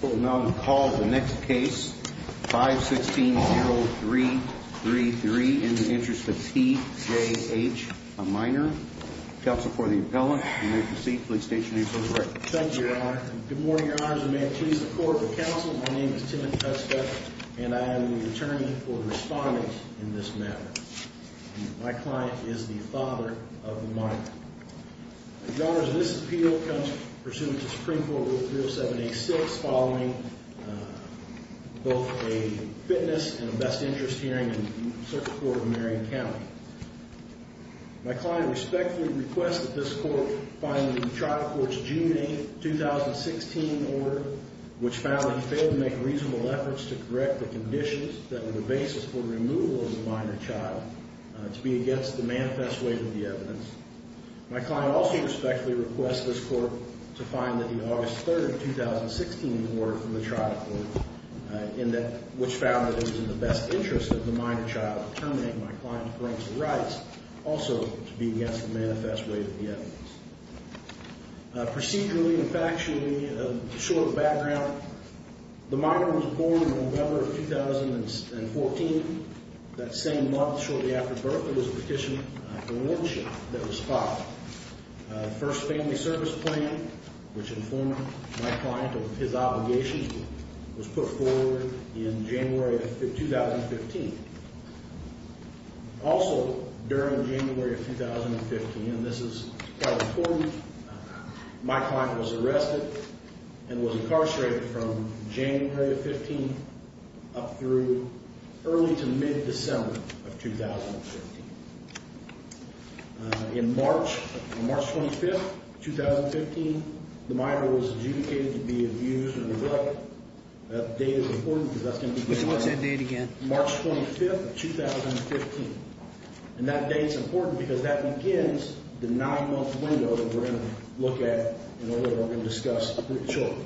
Well, now I'm going to call the next case, 5-16-0-3-3-3, In the Interest of T. J. H., a minor. Counsel for the appellant, you may proceed. Please state your name for the record. Thank you, Your Honor. Good morning, Your Honors. And may it please the court, the counsel, my name is Tim McTuska, and I am the attorney for the respondent in this matter. My client is the father of the minor. The honors of this appeal comes pursuant to Supreme Court Rule 307-A-6, following both a fitness and a best interest hearing in the Circuit Court of Marion County. My client respectfully requests that this court find the trial court's June 8, 2016 order, which found that he failed to make reasonable efforts to correct the conditions that were the basis for removal of the minor child to be against the manifest weight of the evidence. My client also respectfully requests this court to find that the August 3, 2016 order from the trial court, which found that it was in the best interest of the minor child to terminate my client's parental rights, also to be against the manifest weight of the evidence. Procedurally and factually, a short background, the minor was born in November of 2014, that same month shortly after birth. It was a petition for a warranty that was filed. First Family Service Plan, which informed my client of his obligations, was put forward in January of 2015. Also, during January of 2015, and this is quite important, my client was arrested and was incarcerated from January 15 up through early to mid-December of 2015. In March, March 25, 2015, the minor was adjudicated to be abused and abducted, that date is important because that's going to be March 25, 2015, and that date is important because that begins the nine-month window that we're going to look at in order to discuss the children.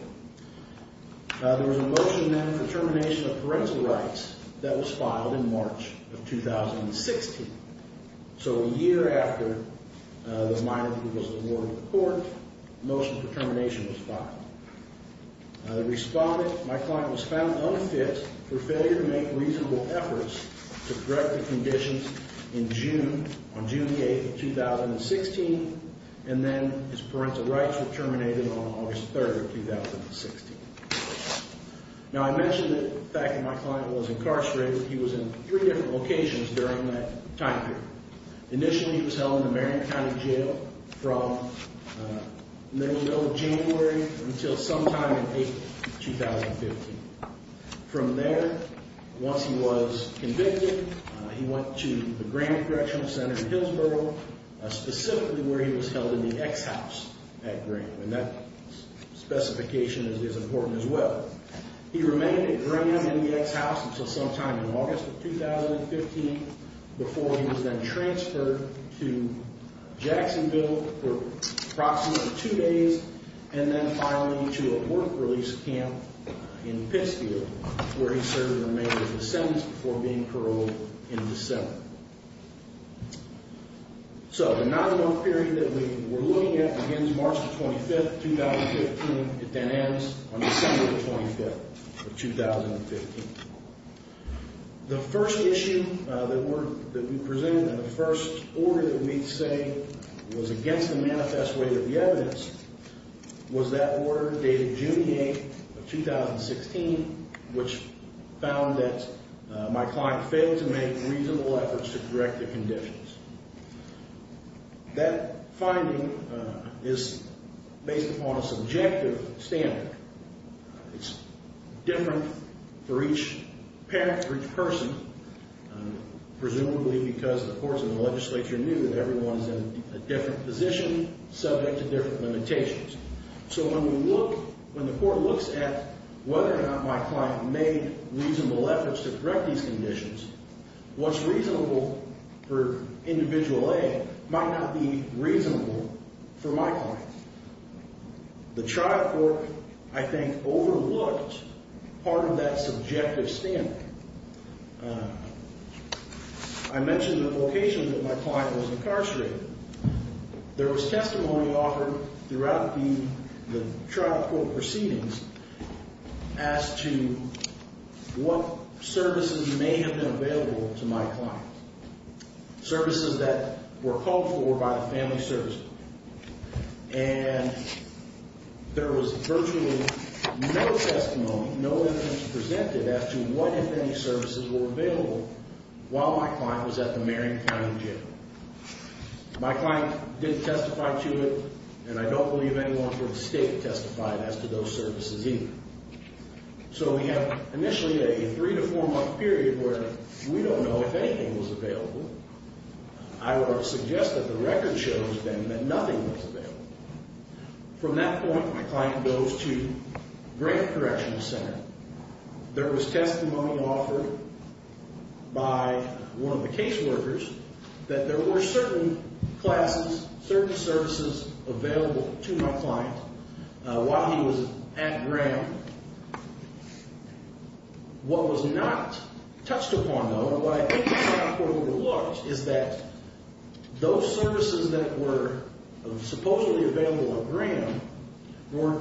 There was a motion then for termination of parental rights that was filed in 2016, so a year after the minor was awarded the warrant, the motion for termination was filed. The respondent, my client, was found unfit for failure to make reasonable efforts to correct the conditions in June, on June 8, 2016, and then his parental rights were terminated on August 3, 2016. Now, I mentioned the fact that my client was incarcerated, he was in three different locations during that time period. Initially, he was held in the Marion County Jail from middle of January until sometime in April, 2015. From there, once he was convicted, he went to the Graham Correctional Center in Hillsborough, specifically where he was held in the X-House at Graham, and that specification is important as well. He remained at Graham and the X-House until sometime in August of 2015, before he was then transferred to Jacksonville for approximately two days, and then finally to a work release camp in Pittsfield, where he served the remainder of his sentence before being paroled in December. So, the nine-month period that we're looking at begins March the 25th, 2015. It then ends on December the 25th of 2015. The first issue that we presented, and the first order that we say was against the manifest way of the evidence, was that order dated June the 8th of 2016, which found that my client failed to make reasonable efforts to correct the conditions. That finding is based upon a subjective standard. It's different for each parent, for each person, presumably because the courts and the legislature knew that everyone is in a different position, subject to different limitations. So when we look, when the court looks at whether or not my client made reasonable efforts to correct these conditions, what's reasonable for individual A might not be reasonable for my client. The trial court, I think, overlooked part of that subjective standard. I mentioned the location that my client was incarcerated. There was testimony offered throughout the trial court proceedings as to what services may have been available to my client. Services that were called for by the family services. And there was virtually no testimony, no evidence presented as to what, if any, services were available while my client was at the Marion County Jail. My client didn't testify to it, and I don't believe anyone from the state testified as to those services either. So we have initially a three to four month period where we don't know if anything was available. I would suggest that the record shows then that nothing was available. From that point, my client goes to Grant Correctional Center. There was testimony offered by one of the case workers that there were certain classes, certain services available to my client while he was at Graham. What was not touched upon, though, and what I think the trial court overlooked, is that those services that were supposedly available at Graham they were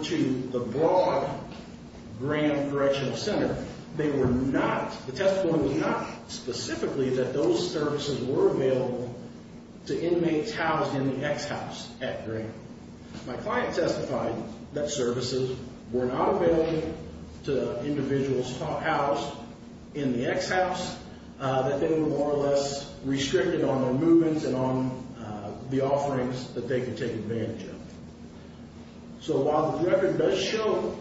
not, the testimony was not specifically that those services were available to inmates housed in the X house at Graham. My client testified that services were not available to individuals housed in the X house, that they were more or less restricted on their movements and on the offerings that they could take advantage of. So while the record does show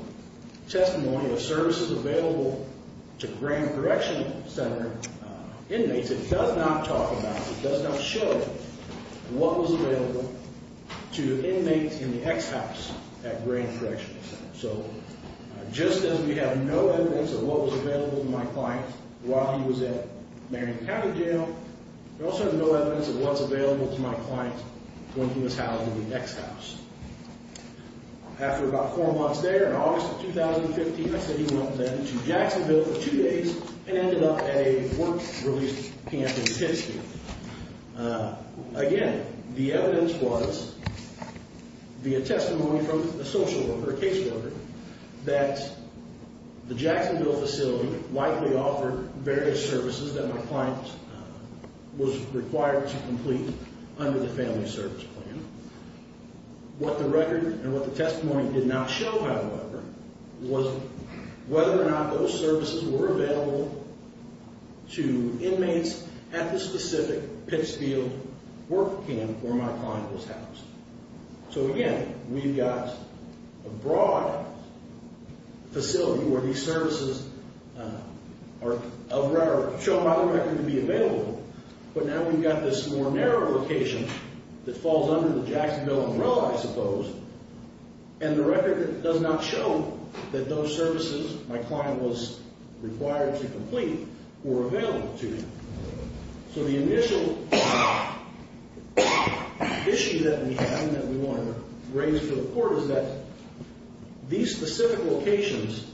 testimony of services available to Graham Correctional Center inmates, it does not talk about, it does not show what was available to inmates in the X house at Graham Correctional Center. So just as we have no evidence of what was available to my client while he was at Marion County Jail, we also have no evidence of what's available to my client when he was housed in the X house. After about four months there, in August of 2015, I said he went then to Jacksonville for two days and ended up at a work release camp in Pittsburgh. Again, the evidence was via testimony from a social worker, a case worker, that the Jacksonville facility likely offered various services that my client was required to complete under the family service plan. What the record and what the testimony did not show, however, was whether or not those services were available to inmates at the specific Pittsfield work camp where my client was housed. So again, we've got a broad facility where these services are shown by the record to be available, but now we've got this more narrow location that falls under the Jacksonville umbrella, I suppose, and the record does not show that those services my client was required to complete were available to him. So the initial issue that we have and that we want to raise for the court is that these specific locations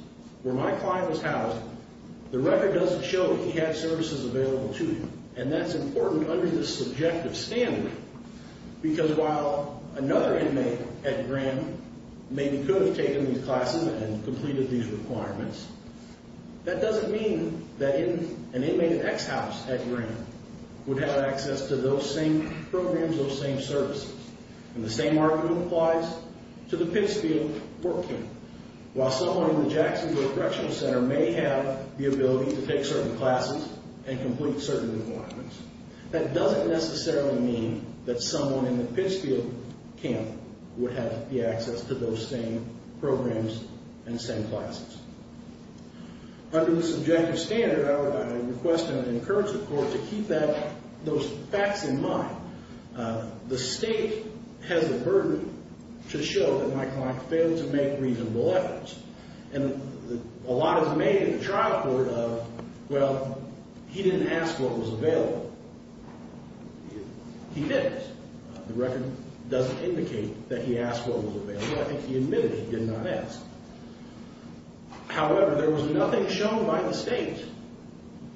where my client was housed, the record doesn't show that he had services available to him. And that's important under the subjective standard, because while another inmate at Graham maybe could have taken these classes and completed these requirements, that doesn't mean that an inmate at X house at Graham would have access to those same programs, those same services. And the same argument applies to the Pittsfield work camp. While someone in the Jacksonville Correctional Center may have the ability to take certain classes and complete certain requirements. That doesn't necessarily mean that someone in the Pittsfield camp would have the access to those same programs and same classes. Under the subjective standard, I would request and encourage the court to keep those facts in mind. The state has the burden to show that my client failed to make reasonable efforts. And a lot is made in the trial court of, well, he didn't ask what was available. He didn't. The record doesn't indicate that he asked what was available. I think he admitted he did not ask. However, there was nothing shown by the state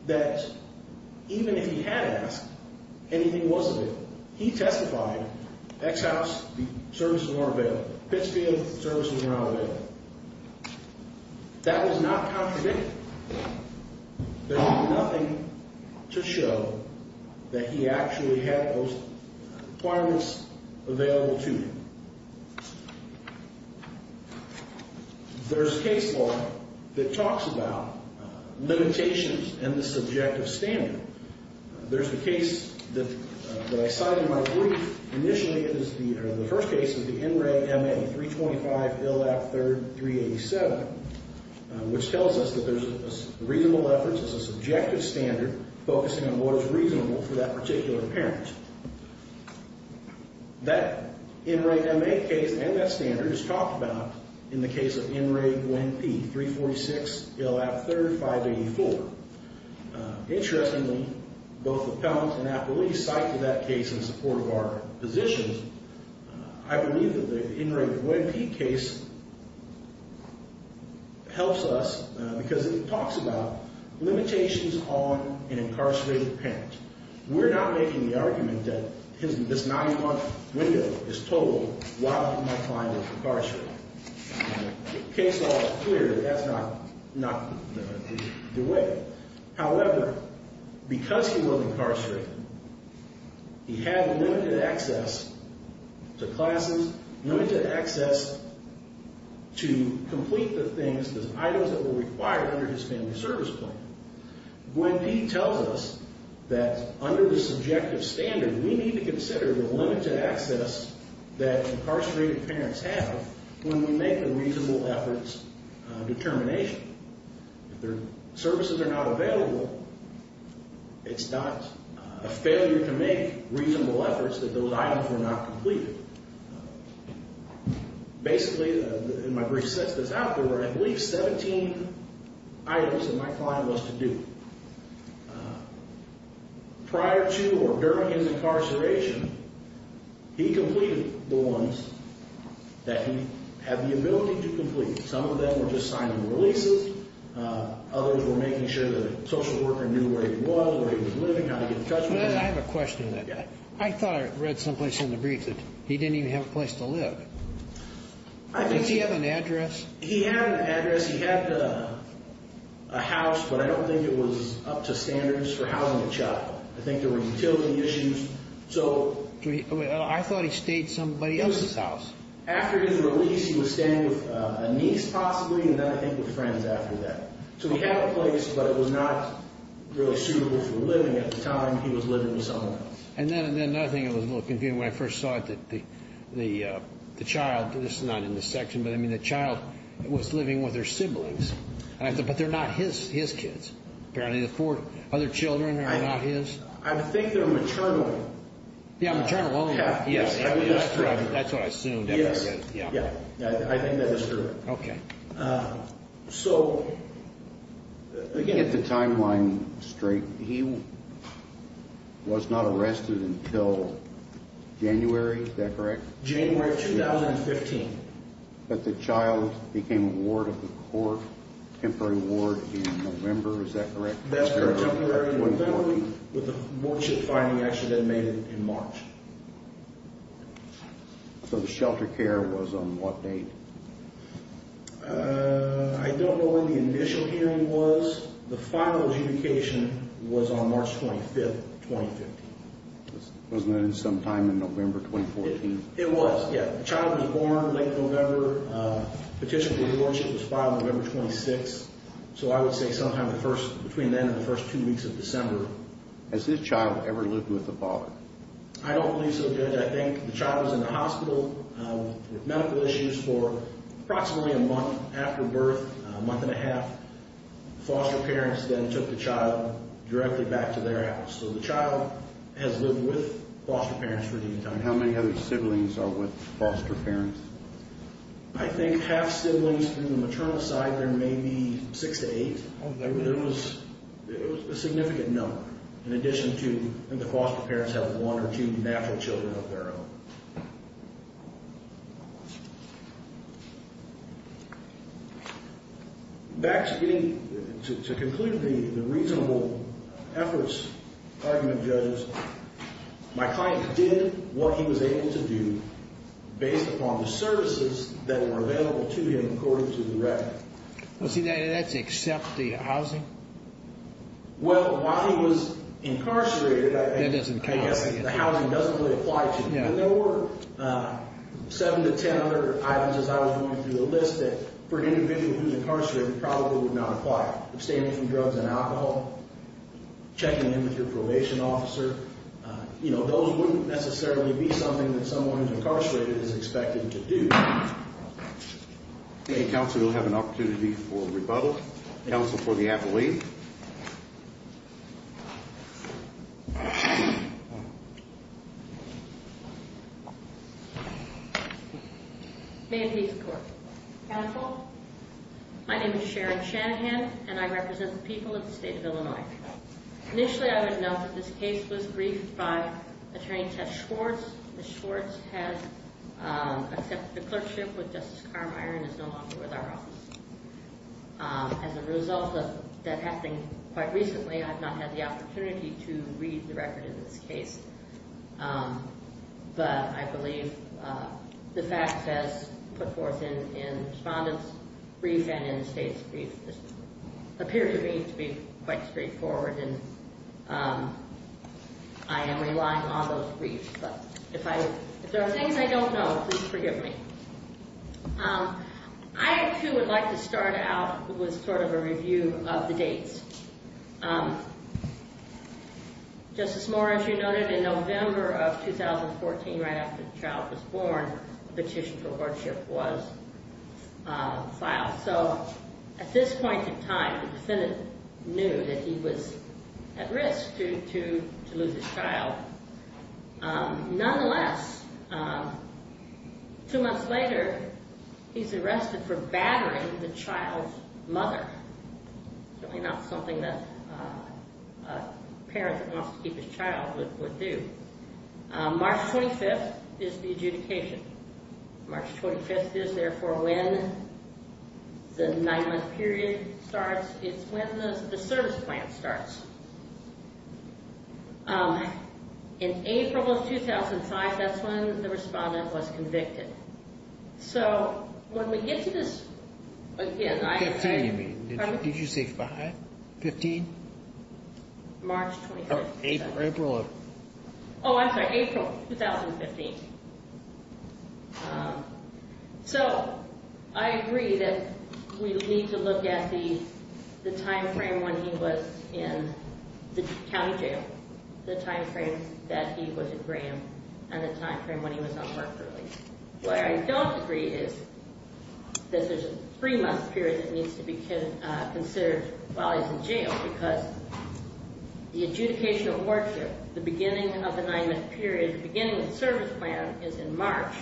that even if he had asked, anything wasn't available. He testified, X house, the services weren't available. Pittsfield, the services were not available. That was not contradicted. There's nothing to show that he actually had those requirements available to him. There's a case law that talks about limitations in the subjective standard. There's a case that I cited in my brief. Initially, it is the first case of the NRA MA 325 LAP 3, 387. Which tells us that there's reasonable efforts as a subjective standard focusing on what is reasonable for that particular parent. That NRA MA case and that standard is talked about in the case of NRA GWEN P, 346 LAP 3, 584. Interestingly, both appellants and appellees cited that case in support of our positions. I believe that the NRA GWEN P case helps us because it talks about limitations on an incarcerated parent. We're not making the argument that this 91 window is total. Why would my client be incarcerated? Case law is clear that that's not the way. However, because he was incarcerated, he had limited access to classes, limited access to complete the things, the items that were required under his family service plan. GWEN P tells us that under the subjective standard, we need to consider the limited access that incarcerated parents have when we make a reasonable efforts determination. If their services are not available, it's not a failure to make reasonable efforts that those items were not completed. Basically, in my brief sense that's out there were at least 17 items that my client was to do prior to or during his incarceration. He completed the ones that he had the ability to complete. Some of them were just signing releases. Others were making sure that a social worker knew where he was, where he was living, how to get in touch with him. I have a question. I thought I read some place in the brief that he didn't even have a place to live. Did he have an address? He had an address. He had a house, but I don't think it was up to standards for housing a child. I think there were utility issues. I thought he stayed at somebody else's house. After his release, he was staying with a niece possibly, and then I think with friends after that. So he had a place, but it was not really suitable for living at the time. He was living with someone else. And then I think it was a little confusing when I first saw it that the child, this is not in this section, but I mean the child was living with her siblings. But they're not his kids. Apparently the four other children are not his. I think they're maternal. Yeah, maternal only. Yes, that's what I assumed. Yeah, I think that is true. Okay. So, again- At the timeline straight, he was not arrested until January, is that correct? January of 2015. But the child became a ward of the court, temporary ward in November, is that correct? That's correct, temporary in November. With the wardship finding actually then made it in March. So the shelter care was on what date? I don't know when the initial hearing was. The final adjudication was on March 25th, 2015. Wasn't it sometime in November 2014? It was, yeah. The child was born late November. Petition for the wardship was filed November 26th. So I would say sometime between then and the first two weeks of December. Has this child ever lived with a father? I don't believe so, Judge. I think the child was in the hospital with medical issues for approximately a month after birth, a month and a half. Foster parents then took the child directly back to their house. So the child has lived with foster parents for the entire time. How many other siblings are with foster parents? I think half siblings in the maternal side, there may be six to eight. It was a significant number, in addition to the foster parents have one or two natural children of their own. Back to being, to conclude the reasonable efforts argument, judges, my client did what he was able to do based upon the services that were available to him according to the record. Well, see, that's except the housing? Well, while he was incarcerated, I guess the housing doesn't really apply to him. But there were seven to ten other items as I was going through the list that for an individual who's incarcerated probably would not apply. Abstaining from drugs and alcohol, checking in with your probation officer. Those wouldn't necessarily be something that someone who's incarcerated is expected to do. Okay, counsel, we'll have an opportunity for rebuttal. Counsel for the appellee. May it please the court. Counsel, my name is Sharon Shanahan, and I represent the people of the state of Illinois. Initially, I would note that this case was briefed by Attorney Ted Schwartz. Ms. Schwartz has accepted the clerkship with Justice Carmeier and is no longer with our office. As a result of that happening quite recently, I have not had the opportunity to read the record in this case. But I believe the facts as put forth in the respondent's brief and in the state's brief just appear to me to be quite straightforward. And I am relying on those briefs. But if there are things I don't know, please forgive me. I, too, would like to start out with sort of a review of the dates. Justice Moore, as you noted, in November of 2014, right after the child was born, a petition for courtship was filed. So, at this point in time, the defendant knew that he was at risk to lose his child. Nonetheless, two months later, he's arrested for battering the child's mother. Certainly not something that a parent that wants to keep his child would do. March 25th is the adjudication. March 25th is, therefore, when the nine-month period starts. It's when the service plan starts. In April of 2005, that's when the respondent was convicted. So, when we get to this, again, I- Can you tell me, did you say 5, 15? March 25th. April 11th. I'm sorry, April 2015. So, I agree that we need to look at the time frame when he was in the county jail, the time frame that he was in Graham, and the time frame when he was on work release. What I don't agree is that there's a three-month period that needs to be considered while he's in jail, because the adjudication of worship, the beginning of the nine-month period, the beginning of the service plan is in March,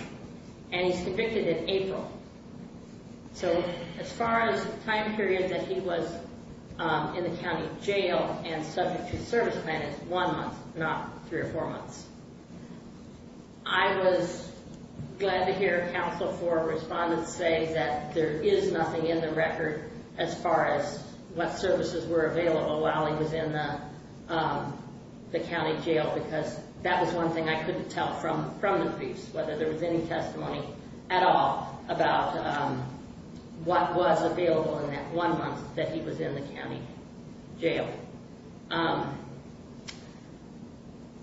and he's convicted in April. So, as far as the time period that he was in the county jail and subject to the service plan, it's one month, not three or four months. I was glad to hear a counsel for a respondent say that there is nothing in the record as far as what services were available while he was in the county jail, because that was one thing I couldn't tell from the briefs, whether there was any testimony at all about what was available in that one month that he was in the county jail.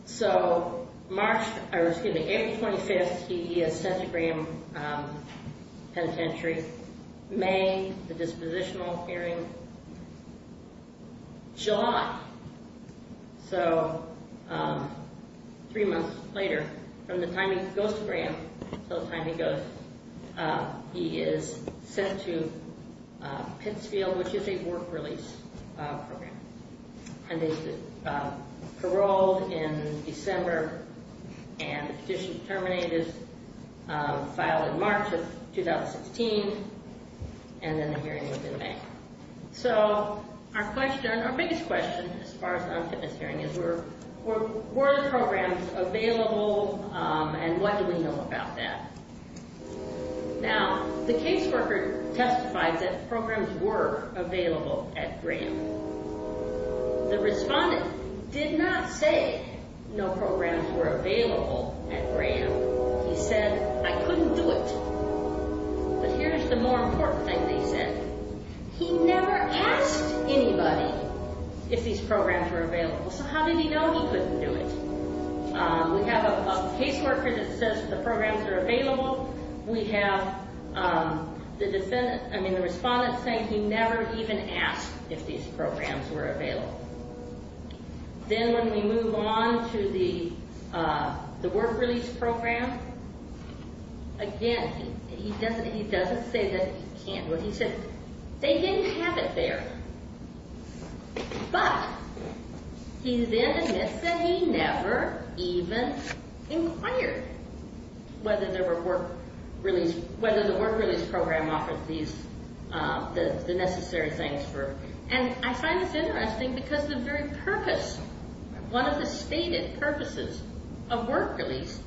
So, March, or excuse me, April 25th, he is sent to Graham Penitentiary. May, the dispositional hearing. July. So, three months later, from the time he goes to Graham, until the time he goes, he is sent to Pittsfield, which is a work-release program, and is paroled in December, and the petition is terminated, filed in March of 2016, and then the hearing will be in May. So, our question, our biggest question, as far as on this hearing, is were the programs available, and what do we know about that? Now, the caseworker testified that programs were available at Graham. The respondent did not say no programs were available at Graham. He said, I couldn't do it. But here's the more important thing they said. He never asked anybody if these programs were available. So, how did he know he couldn't do it? We have a caseworker that says the programs are available. We have the defendant, I mean, the respondent saying he never even asked if these programs were available. Then, when we move on to the work-release program, again, he doesn't say that he can't. He said they didn't have it there. But he then admits that he never even inquired whether there were work-release, whether the work-release program offered these, the necessary things for, and I find this interesting because the very purpose, one of the stated purposes of work-release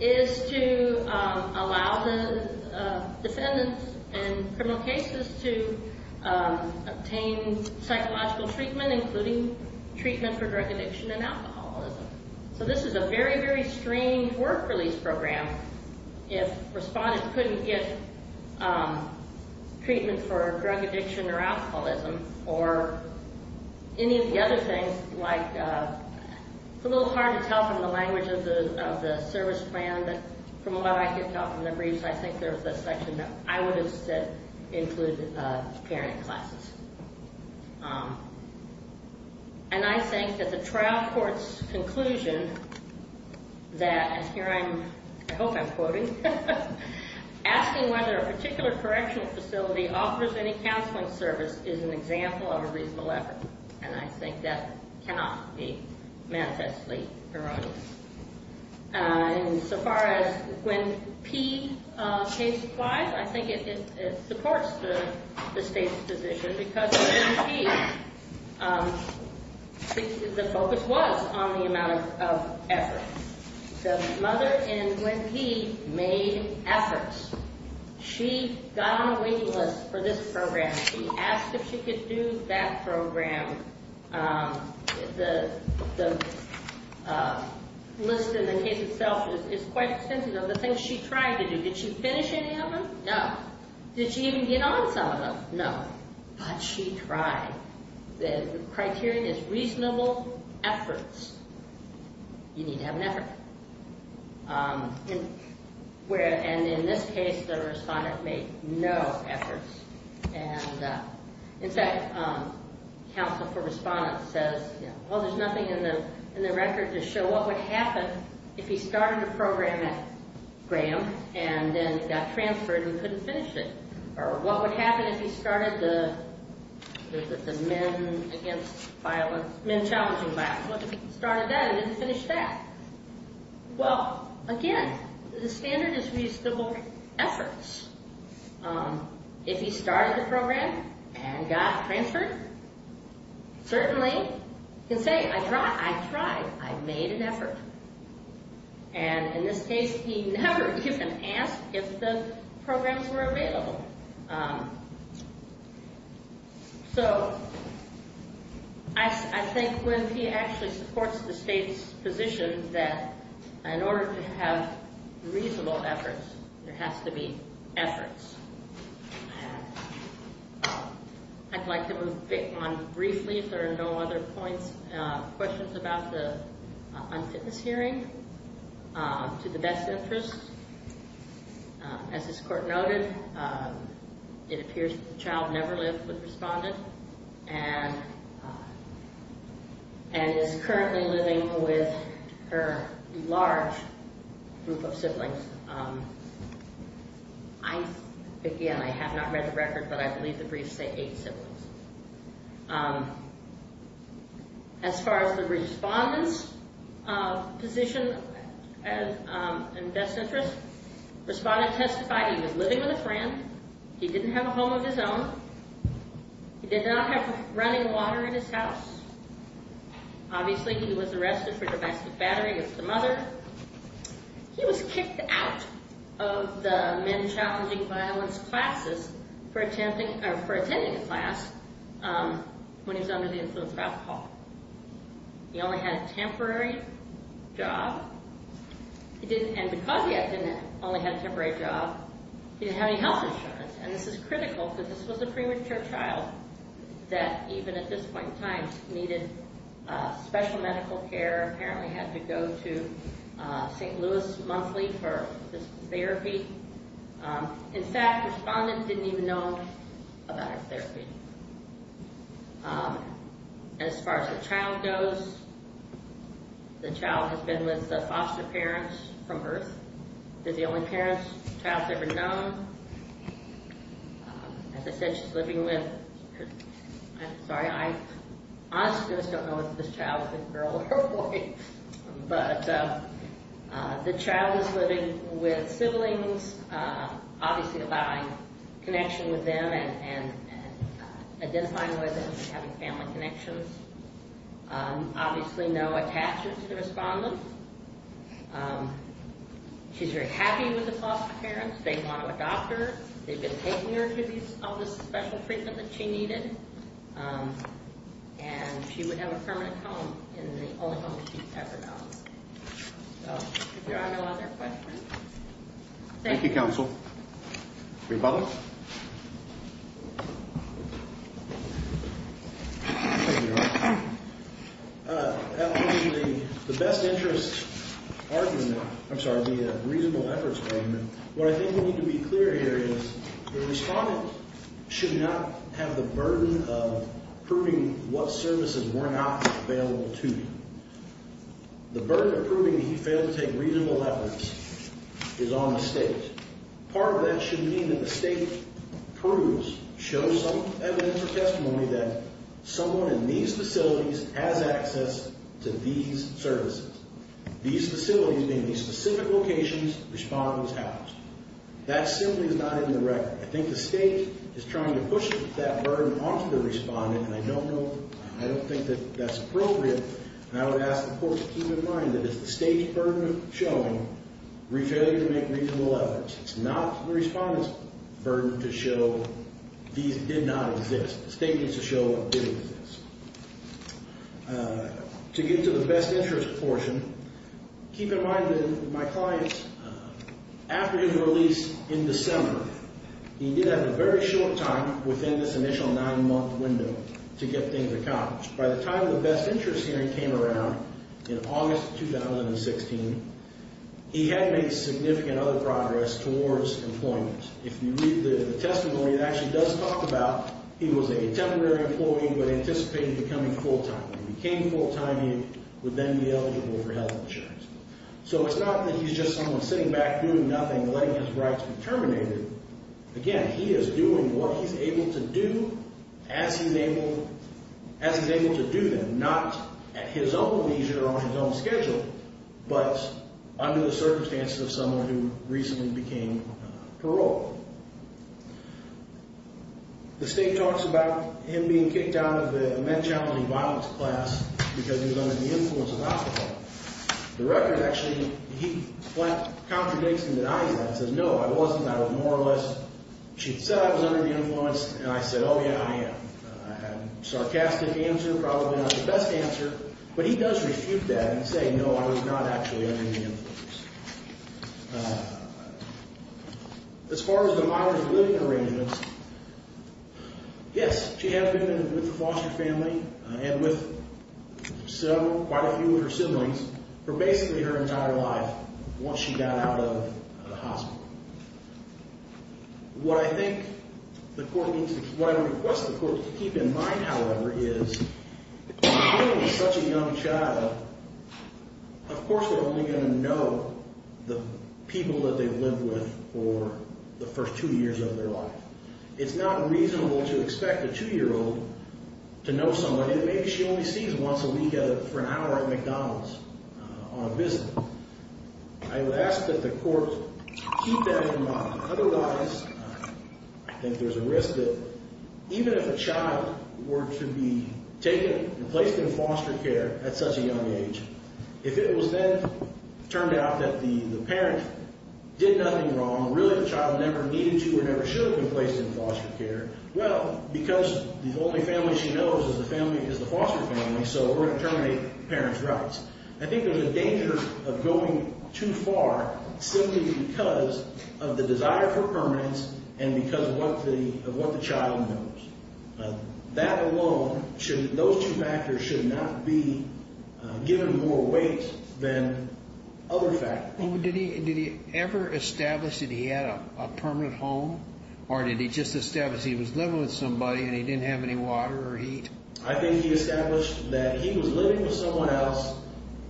is to allow the defendants in criminal cases to obtain psychological treatment, including treatment for drug addiction and alcoholism. So, this is a very, very strained work-release program. If a respondent couldn't get treatment for drug addiction or alcoholism, or any of the other things, like, it's a little hard to tell from the language of the service plan, but from what I could tell from the briefs, I think there was a section that I would have said included parent classes. And I think that the trial court's conclusion that, and here I'm, I hope I'm quoting, asking whether a particular correctional facility offers any counseling service is an example of a reasonable effort. And I think that cannot be manifestly erroneous. And so far as Gwen P's case applies, I think it supports the state's position because Gwen P, the focus was on the amount of effort. The mother in Gwen P made efforts. She got on a waiting list for this program. She asked if she could do that program. The list in the case itself is quite extensive of the things she tried to do. Did she finish any of them? No. Did she even get on some of them? No. But she tried. The criterion is reasonable efforts. You need to have an effort. And in this case, the respondent made no efforts. And in fact, counsel for respondent says, well, there's nothing in the record to show what would happen if he started a program at Graham and then got transferred and couldn't finish it. Or what would happen if he started the men against violence, men challenging violence. What if he started that and didn't finish that? Well, again, the standard is reasonable efforts. If he started the program and got transferred, certainly he can say, I tried. I made an effort. And in this case, he never even asked if the programs were available. So I think when he actually supports the state's position that in order to have reasonable efforts, there has to be efforts. I'd like to move on briefly, if there are no other questions about the unfitness hearing. To the best interest, as this court noted, it appears that the child never lived with respondent and is currently living with her large group of siblings. I, again, I have not read the record, but I believe the briefs say eight siblings. As far as the respondent's position, in best interest, respondent testified he was living with a friend. He didn't have a home of his own. He did not have running water in his house. Obviously, he was arrested for domestic battery with the mother. He was kicked out of the men challenging violence classes for attending a class when he was under the influence of alcohol. He only had a temporary job. And because he only had a temporary job, he didn't have any health insurance. And this is critical because this was a premature child that even at this point in time needed special medical care, apparently had to go to St. Louis monthly for this therapy. In fact, respondent didn't even know about her therapy. As far as the child goes, the child has been with foster parents from Earth. They're the only parents the child's ever known. As I said, she's living with her, I'm sorry, I honestly just don't know if this child is a girl or a boy. But the child is living with siblings, obviously allowing connection with them and identifying with them and having family connections. Obviously, no attachment to the respondent. She's very happy with the foster parents. They want to adopt her. They've been taking her to all this special treatment that she needed. And she would have a permanent home and the only home she's ever known. So, if there are no other questions. Thank you. Thank you, counsel. Republicans? Thank you, Your Honor. The best interest argument, I'm sorry, the reasonable efforts argument. What I think we need to be clear here is the respondent should not have the burden of proving what services were not available to them. The burden of proving that he failed to take reasonable efforts is on the state. Part of that should mean that the state proves, shows some evidence or testimony that someone in these facilities has access to these services. These facilities, meaning these specific locations, respondent was housed. That simply is not in the record. I think the state is trying to push that burden onto the respondent, and I don't know, I don't think that that's appropriate. And I would ask the court to keep in mind that it's the state's burden of showing failure to make reasonable efforts. It's not the respondent's burden to show these did not exist. The state needs to show what did exist. To get to the best interest portion, keep in mind that my client, after his release in December, he did have a very short time within this initial nine-month window to get things accomplished. By the time the best interest hearing came around in August of 2016, he had made significant other progress towards employment. If you read the testimony, it actually does talk about he was a temporary employee but anticipated becoming full-time. If he became full-time, he would then be eligible for health insurance. So it's not that he's just someone sitting back doing nothing, letting his rights be terminated. Again, he is doing what he's able to do as he's able to do them, not at his own leisure or on his own schedule, but under the circumstances of someone who recently became paroled. The state talks about him being kicked out of the men challenging violence class because he was under the influence of alcohol. The record actually, he contradicts and denies that and says, no, I wasn't. I was more or less, she said I was under the influence, and I said, oh, yeah, I am. I had a sarcastic answer, probably not the best answer, but he does refute that and say, no, I was not actually under the influence. As far as the modern living arrangements, yes, she has been with the foster family and with quite a few of her siblings. For basically her entire life, once she got out of the hospital. What I think the court needs to, what I would request the court to keep in mind, however, is, given such a young child, of course they're only going to know the people that they've lived with for the first two years of their life. It's not reasonable to expect a two-year-old to know somebody that maybe she only sees once a week for an hour at McDonald's on a visit. I would ask that the court keep that in mind. Otherwise, I think there's a risk that even if a child were to be taken and placed in foster care at such a young age, if it was then turned out that the parent did nothing wrong, really the child never needed to or never should have been placed in foster care, well, because the only family she knows is the foster family, so we're going to terminate the parent's rights. I think there's a danger of going too far simply because of the desire for permanence and because of what the child knows. That alone, those two factors should not be given more weight than other factors. Did he ever establish that he had a permanent home, or did he just establish he was living with somebody and he didn't have any water or heat? I think he established that he was living with someone else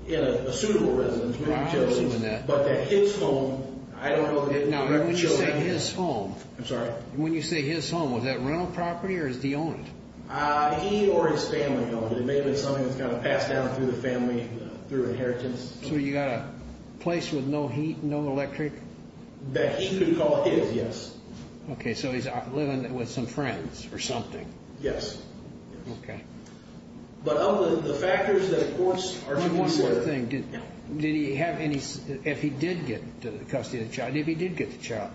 in a suitable residence with utilities, but that his home, I don't know that he had children. Now, when you say his home, was that rental property or did he own it? He or his family owned it. It may have been something that was passed down through the family through inheritance. So you got a place with no heat and no electric? You could call it his, yes. Okay, so he's living with some friends or something. Yes. Okay. One more thing. Did he have any, if he did get custody of the child, if he did get the child,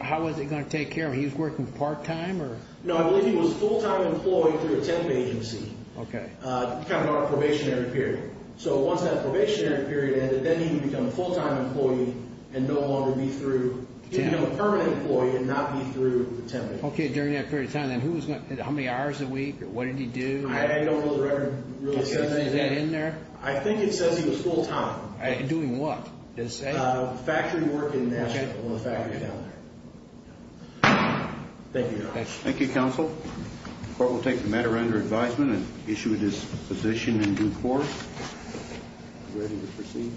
how was he going to take care of it? He was working part-time? No, I believe he was a full-time employee through a temp agency. Okay. Kind of on a probationary period. So once that probationary period ended, then he would become a full-time employee and no longer be through. He would become a permanent employee and not be through the temp agency. Okay, during that period of time, then who was going to, how many hours a week? What did he do? I don't know the record really says anything. Is that in there? I think it says he was full-time. Doing what? Factory work in Nashville, a little factory down there. Thank you, Your Honor. Thank you, counsel. The court will take the matter under advisement and issue it as position in due course. Ready to proceed.